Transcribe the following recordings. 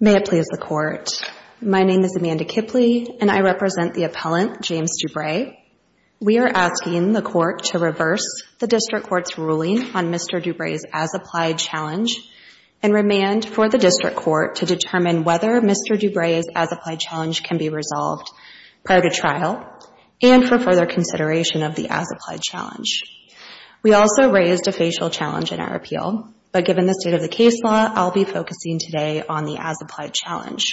May it please the court. My name is Amanda Kipley and I represent the appellant James Dubray. We are asking the court to reverse the district court's ruling on Mr. Dubray's as-applied challenge and remand for the district court to determine whether Mr. Dubray's as-applied challenge can be resolved prior to trial and for further consideration of the as-applied challenge. We also raised a facial challenge in our appeal but given the state of the case law I'll be focusing today on the as-applied challenge.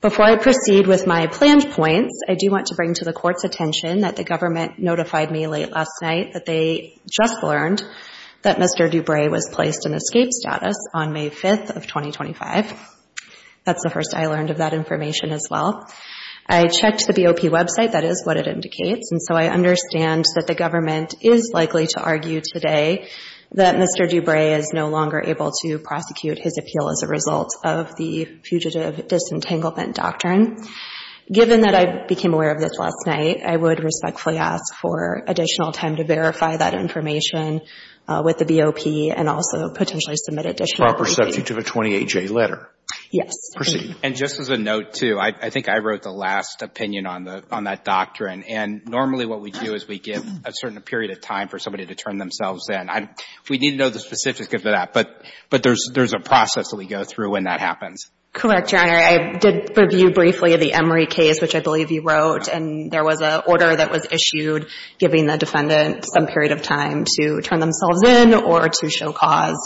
Before I proceed with my planned points I do want to bring to the court's attention that the government notified me late last night that they just learned that Mr. Dubray was placed in escape status on May 5th of 2025. That's the first I learned of that information as well. I checked the BOP website that is what it indicates and so I understand that the government is likely to argue today that Mr. Dubray is no longer able to prosecute his appeal as a result of the fugitive disentanglement doctrine. Given that I became aware of this last night I would respectfully ask for additional time to verify that information with the BOP and also potentially submit additional. Proper subject of a 28-J letter. Yes. Proceed. And just as a note too I think I wrote the last opinion on the on that doctrine and normally what we do is we give a certain period of time for somebody to turn themselves in. We need to know the specifics of that but but there's there's a process that we go through when that happens. Correct, Your Honor. I did review briefly the Emory case which I believe you wrote and there was a order that was issued giving the defendant some period of time to turn themselves in or to show cause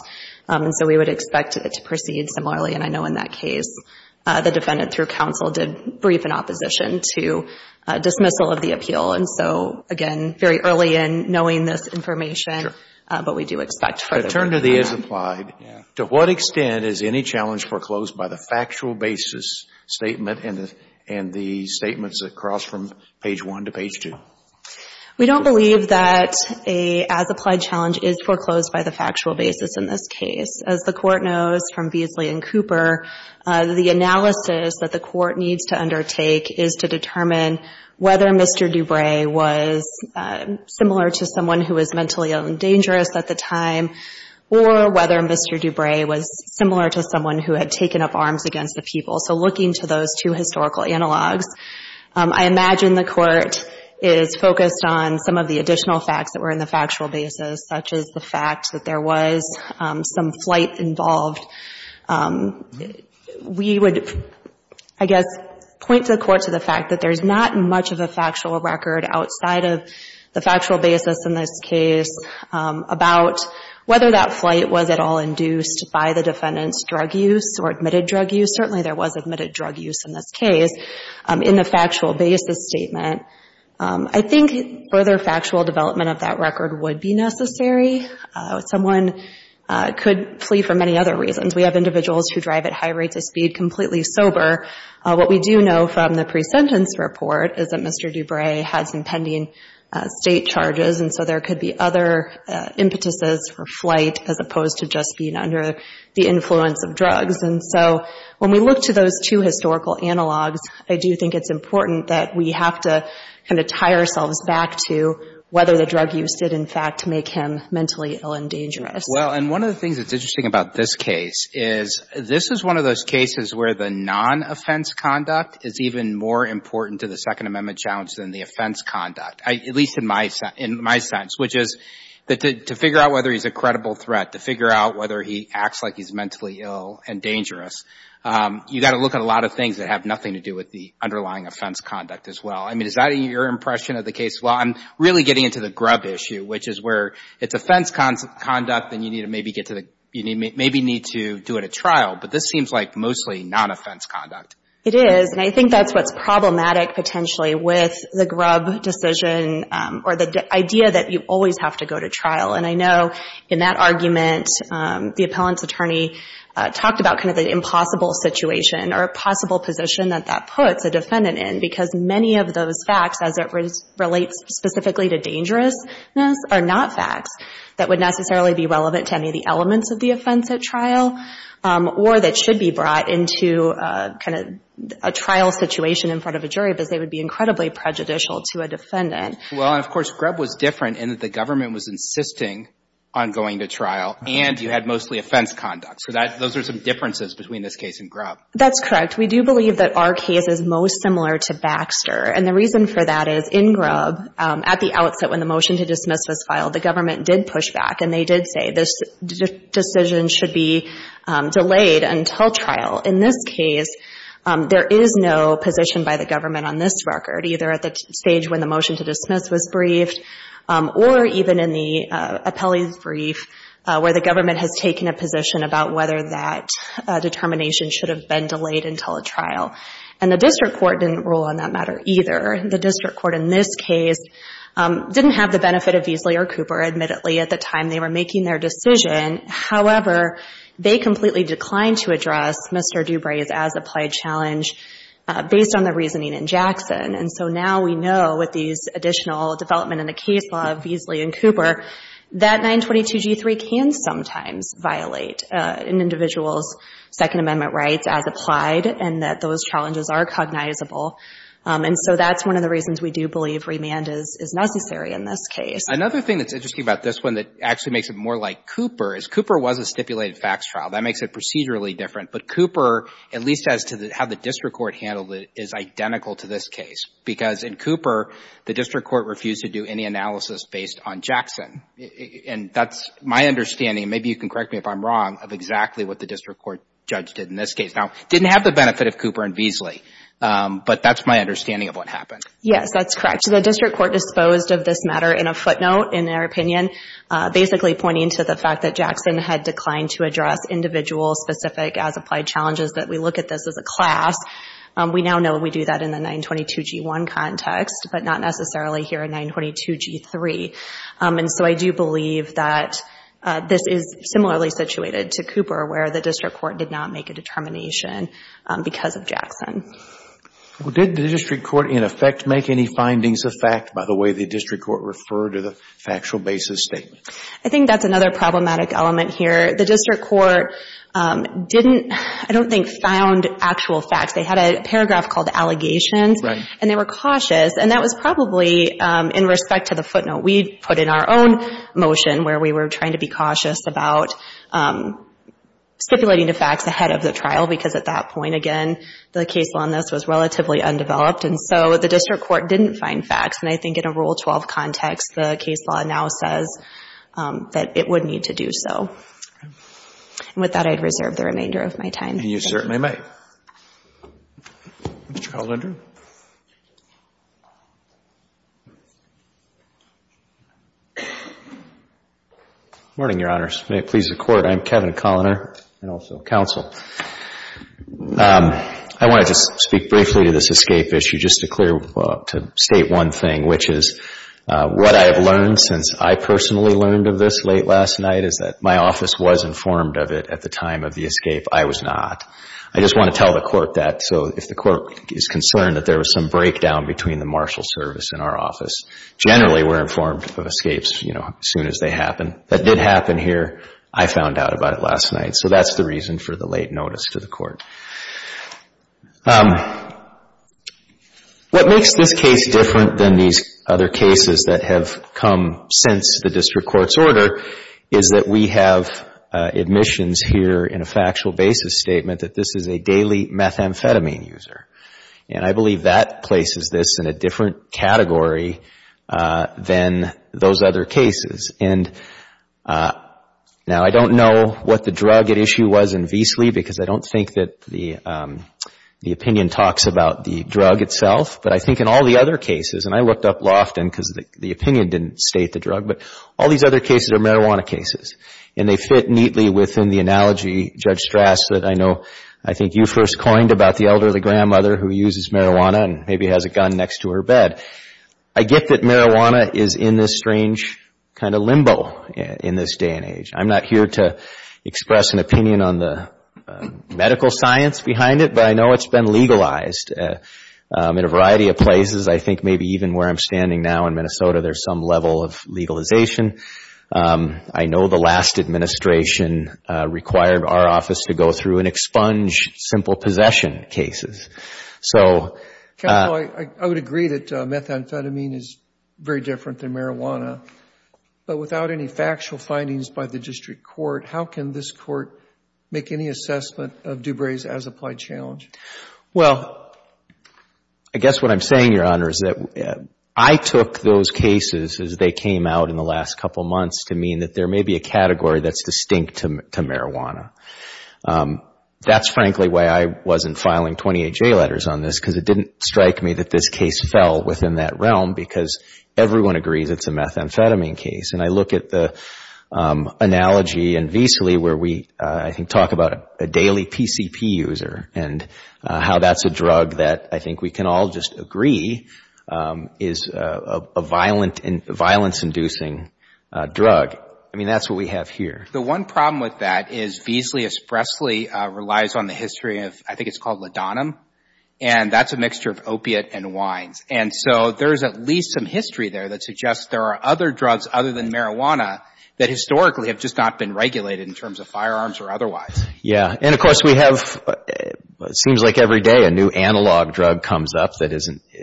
and so we would expect it to proceed similarly and I know in that case the defendant through counsel did brief an opposition to dismissal of the appeal and so again very early in knowing this information but we do expect further. To turn to the as applied, to what extent is any challenge foreclosed by the factual basis statement and and the statements that cross from page 1 to page 2? We don't believe that a as applied challenge is foreclosed by the factual basis in this case. As the court knows from Beasley and Cooper, the analysis that the court needs to undertake is to determine whether Mr. DuBray was similar to someone who was mentally ill and dangerous at the time or whether Mr. DuBray was similar to someone who had taken up arms against the people. So looking to those two historical analogs, I imagine the court is focused on some of the additional facts that were in the factual basis such as the fact that there was some flight involved. We would I guess point the court to the fact that there's not much of a factual record outside of the factual basis in this case about whether that flight was at all induced by the defendant's drug use or admitted drug use. Certainly there was admitted drug use in this case in the factual basis statement. I think further factual development of that record would be necessary. Someone could flee for many other reasons. We have individuals who drive at high rates of speed completely sober. What we do know from the pre-sentence report is that Mr. DuBray has impending state charges and so there could be other impetuses for flight as opposed to just being under the influence of drugs. And so when we look to those two historical analogs, I do think it's important that we have to kind of tie ourselves back to whether the drug use did in fact make him mentally ill and dangerous. Well and one of the things that's interesting about this case is this is one of those cases where the non-offense conduct is even more important to the Second Amendment challenge than the offense conduct, at least in my sense, which is to figure out whether he's a credible threat, to figure out whether he acts like he's mentally ill and dangerous, you've got to look at a lot of things that have nothing to do with the underlying offense conduct as well. I mean is that your impression of the case? Well I'm really getting into the grub issue, which is where it's offense conduct and you need to maybe get to the, you maybe need to do it at trial, but this seems like mostly non-offense conduct. It is and I think that's what's problematic potentially with the grub decision or the idea that you always have to go to trial and I know in that argument the appellant's attorney talked about kind of the impossible situation or a possible position that that puts a defendant in because many of those facts as it relates specifically to dangerousness are not facts that would necessarily be relevant to any of the elements of the offense at trial or that should be brought into kind of a trial situation in front of a jury because they would be incredibly prejudicial to a defendant. Well and of course grub was different in that the government was insisting on going to trial and you had mostly offense conduct so that those are some differences between this case and grub. That's correct we do believe that our case is most similar to Baxter and the reason for that is in grub at the outset when the motion to dismiss was filed the government did push back and they did say this decision should be delayed until trial. In this case there is no position by the government on this record either at the stage when the motion to dismiss was briefed or even in the appellee's brief where the government has taken a position about whether that determination should have been delayed until a trial and the district court didn't rule on that matter either. The district court in this case didn't have the benefit of Beasley or Cooper admittedly at the time they were making their decision however they completely declined to address Mr. DuBray's as applied challenge based on the reasoning in Jackson and so now we know with these additional development in the case law of Beasley and Cooper that 922 g3 can sometimes violate an individual's Second Recognizable and so that's one of the reasons we do believe remand is necessary in this case. Another thing that's interesting about this one that actually makes it more like Cooper is Cooper was a stipulated facts trial that makes it procedurally different but Cooper at least as to the how the district court handled it is identical to this case because in Cooper the district court refused to do any analysis based on Jackson and that's my understanding maybe you can correct me if I'm wrong of exactly what the district court judge did in this case now didn't have the benefit of Cooper and Beasley but that's my understanding of what happened. Yes that's correct the district court disposed of this matter in a footnote in their opinion basically pointing to the fact that Jackson had declined to address individual specific as applied challenges that we look at this as a class we now know we do that in the 922 g1 context but not necessarily here in 922 g3 and so I do believe that this is similarly situated to Cooper where the district court did not make a determination because of Jackson. Well did the district court in effect make any findings of fact by the way the district court referred to the factual basis statement? I think that's another problematic element here the district court didn't I don't think found actual facts they had a paragraph called allegations and they were cautious and that was probably in respect to the footnote we put in our own motion where we were trying to be cautious about stipulating the facts ahead of the trial because at that point again the case on this was relatively undeveloped and so the district court didn't find facts and I think in a rule 12 context the case law now says that it would need to do so and with that I'd reserve the remainder of my time. You certainly may. Morning your honors may it please the court I'm Kevin Colliner and also counsel. I want to just speak briefly to this escape issue just to state one thing which is what I have learned since I personally learned of this late last night is that my office was informed of it at the time of the escape I was not I just want to tell the court that so if the court is concerned that there was some breakdown between the marshal service in our office generally we're informed of escapes you know as soon as they happen that did happen here I found out about it last night so that's the reason for the late notice to the court. What makes this case different than these other cases that have come since the district court's order is that we have admissions here in a factual basis statement that this is a daily methamphetamine user and I believe that places this in a different category than those other cases and now I don't know what the drug at issue was in Veasley because I don't think that the opinion talks about the drug itself but I think in all the other cases and I looked up Lofton because the opinion didn't state the drug but all these other cases are marijuana cases and they fit neatly within the analogy Judge Strass that I know I think you first coined about the elderly grandmother who uses marijuana and maybe has a gun next to her bed. I get that marijuana is in this strange kind of limbo in this day and age I'm not here to express an opinion on the medical science behind it but I know it's been legalized in a variety of places I think maybe even where I'm standing now in Minnesota there's some level of legalization. I know the last administration required our office to go through and expunge simple possession cases. So I would agree that methamphetamine is very different than marijuana but without any factual findings by the district court how can this court make any assessment of DuBray's as applied challenge? Well I guess what I'm saying your honor is that I took those cases as they came out in the last couple months to mean that there may be a category that's distinct to marijuana. That's frankly why I wasn't filing 28 J letters on this because it didn't strike me that this case fell within that realm because everyone agrees it's a methamphetamine case and I look at the analogy in Veasley where we talk about a daily PCP user and how that's a drug that I think we can all just agree is a violence inducing drug. I mean that's what we have here. The one problem with that is Veasley Espressoly relies on the history of I think it's called Lodonum and that's a mixture of opiate and wines and so there's at least some history there that suggests there are other drugs other than marijuana that historically have just not been regulated in terms of firearms or otherwise. Yeah and of course we have, it seems like every day a new analog drug comes up that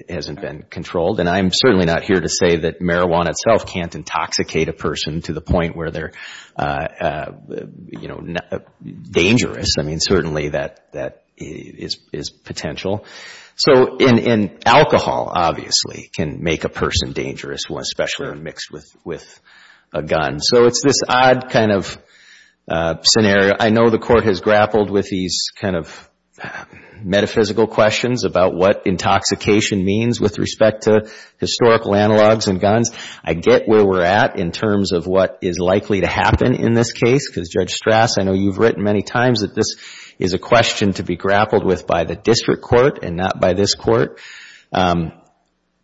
hasn't been controlled and I'm certainly not here to say that marijuana itself can't intoxicate a person to the point where they're dangerous. I mean certainly that is potential. So alcohol obviously can make a person dangerous, especially when mixed with a gun. So it's this odd kind of scenario. I know the court has grappled with these kind of metaphysical questions about what intoxication means with respect to historical analogs and guns. I get where we're at in terms of what is likely to happen in this case because Judge Strass, I know you've written many times that this is a question to be grappled with by the district court and not by this court.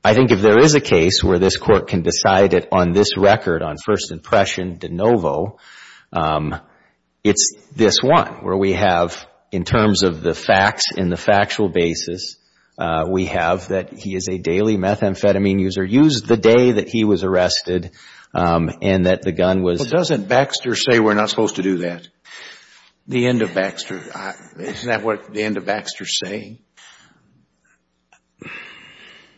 I think if there is a case where this court can decide it on this record on first impression de novo, it's this one where we have in terms of the facts in the factual basis, we have that he is a daily methamphetamine user, used the day that he was arrested and that the gun was So doesn't Baxter say we're not supposed to do that? The end of Baxter, isn't that what the end of Baxter is saying? It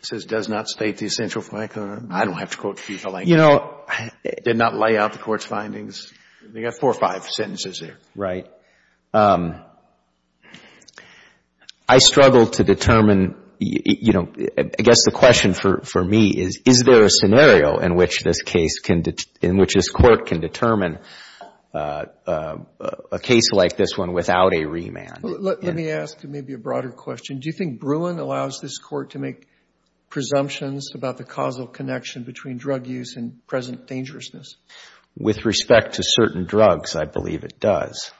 says, does not state the essential fact of the matter. I don't have to quote people like that. You know, did not lay out the court's findings. They got four or five sentences there. Right. I struggle to determine, you know, I guess the question for me is, is there a scenario in which this court can determine a case like this one without a remand? Let me ask maybe a broader question. Do you think Bruin allows this court to make presumptions about the causal connection between drug use and present dangerousness? With respect to certain drugs, I believe it does.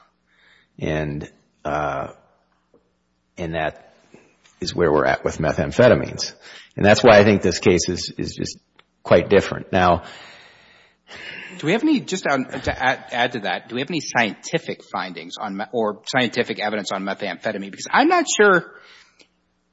And that is where we're at with methamphetamines. And that's why I think this case is quite different now. Do we have any, just to add to that, do we have any scientific findings or scientific evidence on methamphetamine? Because I'm not sure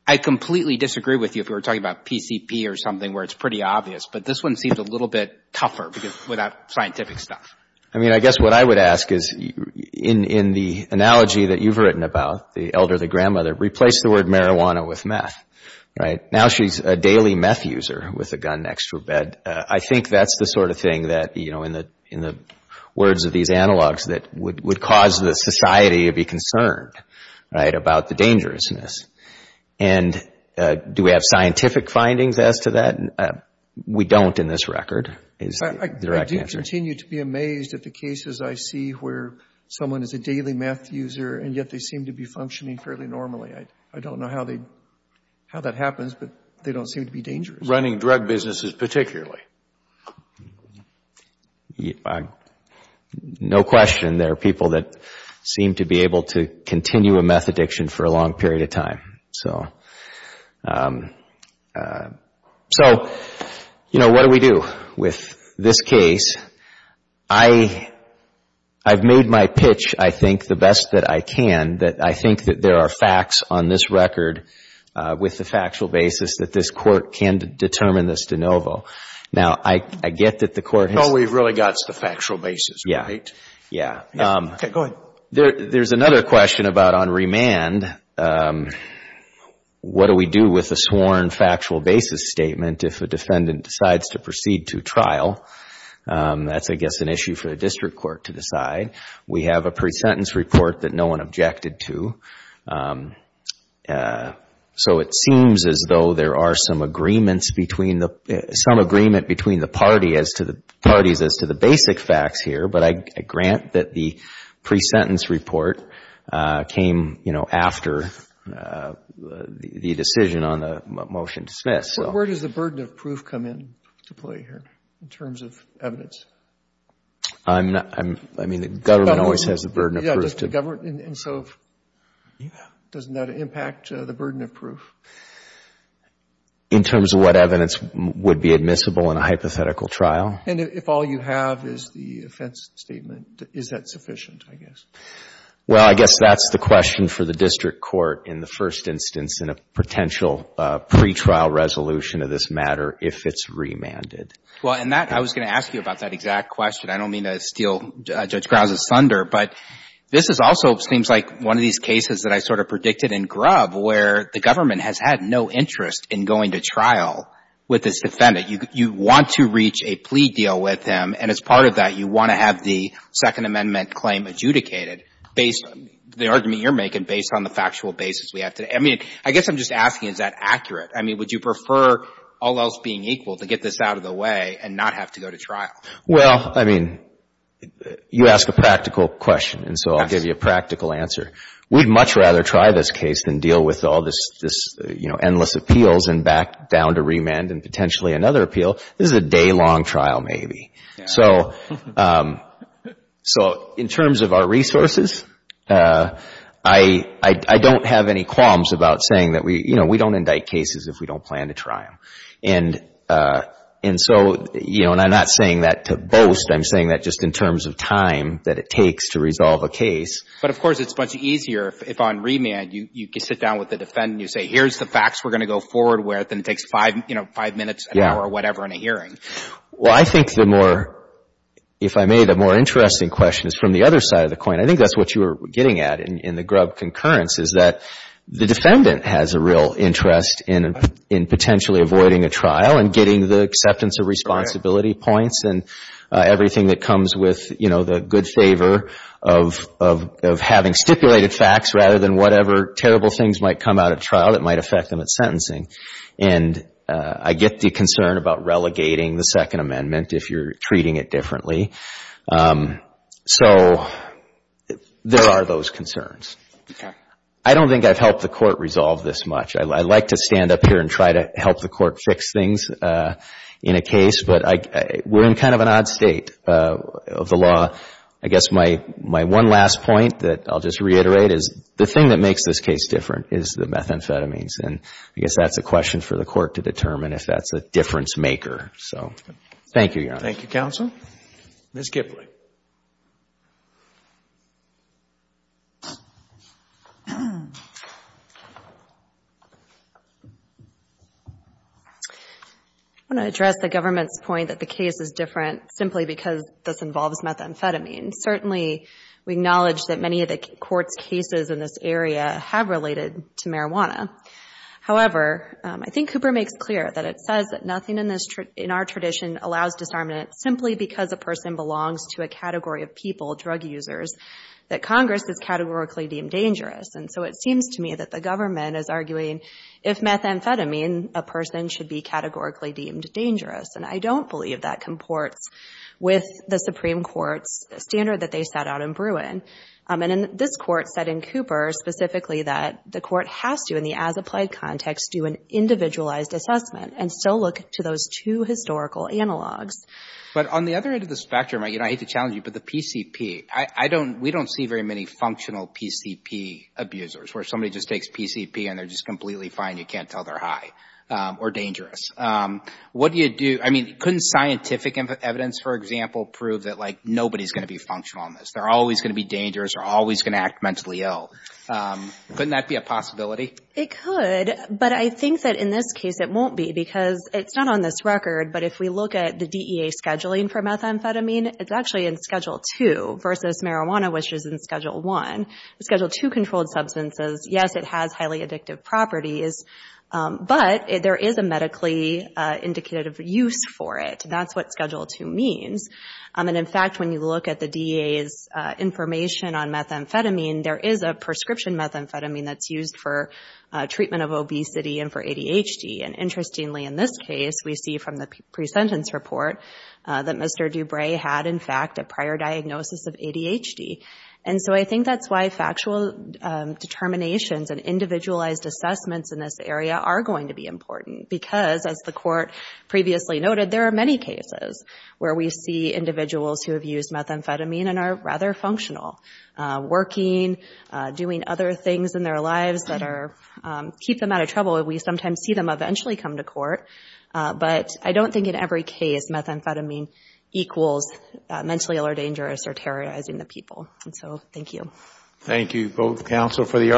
I completely disagree with you if we were talking about PCP or something where it's pretty obvious. But this one seems a little bit tougher without scientific stuff. I mean, I guess what I would ask is, in the analogy that you've written about, the elder, the grandmother, replaced the word marijuana with meth, right? Now she's a daily meth user with a gun next to her bed. I think that's the sort of thing that, you know, in the words of these analogs, that would cause the society to be concerned, right, about the dangerousness. And do we have scientific findings as to that? We don't in this record, is the direct answer. I do continue to be amazed at the cases I see where someone is a daily meth user and yet they seem to be functioning fairly normally. I don't know how that happens, but they don't seem to be dangerous. Running drug businesses particularly? No question. There are people that seem to be able to continue a meth addiction for a long period of time. So, you know, what do we do with this case? I've made my pitch, I think, the best that I can, that I think that there are facts on this record with the factual basis that this Court can determine this de novo. Now, I get that the Court has... No, we've really got the factual basis, right? Yeah. Okay, go ahead. There's another question about on remand, what do we do with a sworn factual basis statement if a defendant decides to That's, I guess, an issue for the District Court to decide. We have a pre-sentence report that no one objected to. So it seems as though there are some agreements between the, some agreement between the parties as to the basic facts here, but I grant that the pre-sentence report came, you know, after the decision on the motion to dismiss. Where does the burden of proof come in to play here in terms of evidence? I'm not, I mean, the government always has the burden of proof. Yeah, just the government, and so doesn't that impact the burden of proof? In terms of what evidence would be admissible in a hypothetical trial. And if all you have is the offense statement, is that sufficient, I guess? Well, I guess that's the question for the District Court in the first instance in a potential pretrial resolution of this matter, if it's remanded. Well, and that, I was going to ask you about that exact question. I don't mean to steal Judge Grounds' thunder, but this is also, seems like one of these cases that I sort of predicted in Grubb, where the government has had no interest in going to trial with this defendant. You want to reach a plea deal with him, and as part of that, you want to have the Second Amendment claim adjudicated based on the argument you're making, based on the factual basis we have today. I mean, I guess I'm just asking, is that accurate? I mean, would you prefer all else being equal to get this out of the way and not have to go to trial? Well, I mean, you ask a practical question, and so I'll give you a practical answer. We'd much rather try this case than deal with all this, you know, endless appeals and back down to remand and potentially another appeal. This is a day-long trial, maybe. So in terms of our resources, I don't have any qualms about saying that we, you know, we don't indict cases if we don't plan to try them. And so, you know, and I'm not saying that to boast. I'm saying that just in terms of time that it takes to resolve a case. But, of course, it's much easier if on remand you sit down with the defendant and you say, here's the facts we're going to go forward with, and it takes five, you know, five minutes, an hour or whatever in a hearing. Well, I think the more, if I may, the more interesting question is from the other side of the coin. I think that's what you were getting at in the grub concurrence, is that the defendant has a real interest in potentially avoiding a trial and getting the acceptance of responsibility points and everything that comes with, you know, the good favor of having stipulated facts rather than whatever terrible things might come out at trial that might affect them at sentencing. And I get the concern about relegating the Second Amendment if you're treating it differently. So there are those concerns. I don't think I've helped the Court resolve this much. I like to stand up here and try to help the Court fix things in a case, but we're in kind of an odd state of the law. I guess my one last point that I'll just reiterate is the thing that makes this case different is the methamphetamines, and I guess that's a question for the Court to determine if that's a difference maker. So thank you, Your Honor. Thank you, counsel. Ms. Gipley. I want to address the government's point that the case is different simply because this involves methamphetamine. Certainly we acknowledge that many of the Court's cases in this area have related to marijuana. However, I think Cooper makes clear that it says that nothing in our tradition allows disarmament simply because a person belongs to a category of people, drug users, that Congress has categorically deemed dangerous. And so it seems to me that the government is arguing if methamphetamine, a person should be categorically deemed dangerous, and I don't believe that comports with the Supreme Court's standard that they set out in Bruin. And this Court said in Cooper specifically that the Court has to, in the as-applied context, do an individualized assessment and still look to those two historical analogs. But on the other end of the spectrum, I hate to challenge you, but the PCP, we don't see very many functional PCP abusers, where somebody just takes PCP and they're just completely fine, you can't tell they're high or dangerous. What do you do, I mean, couldn't scientific evidence, for example, prove that, like, nobody's going to be functional on this? They're always going to be dangerous or always going to act mentally ill. Couldn't that be a possibility? It could, but I think that in this case it won't be because it's not on this record, but if we look at the DEA scheduling for methamphetamine, it's actually in Schedule 2 versus marijuana, which is in Schedule 1. Schedule 2 controlled substances, yes, it has highly addictive properties, but there is a medically indicative use for it. That's what Schedule 2 means. And, in fact, when you look at the DEA's information on methamphetamine, there is a prescription methamphetamine that's used for treatment of obesity and for ADHD, and interestingly, in this case, we see from the pre-sentence report that Mr. DuBray had, in fact, a prior diagnosis of ADHD. And so I think that's why factual determinations and individualized assessments in this area are going to be important because, as the Court previously noted, there are many cases where we see individuals who have used methamphetamine and are rather functional, working, doing other things in their lives that keep them out of trouble. We sometimes see them eventually come to court, but I don't think in every case methamphetamine equals mentally ill or dangerous or terrorizing the people. And so thank you. Thank you both, counsel, for the opportunity.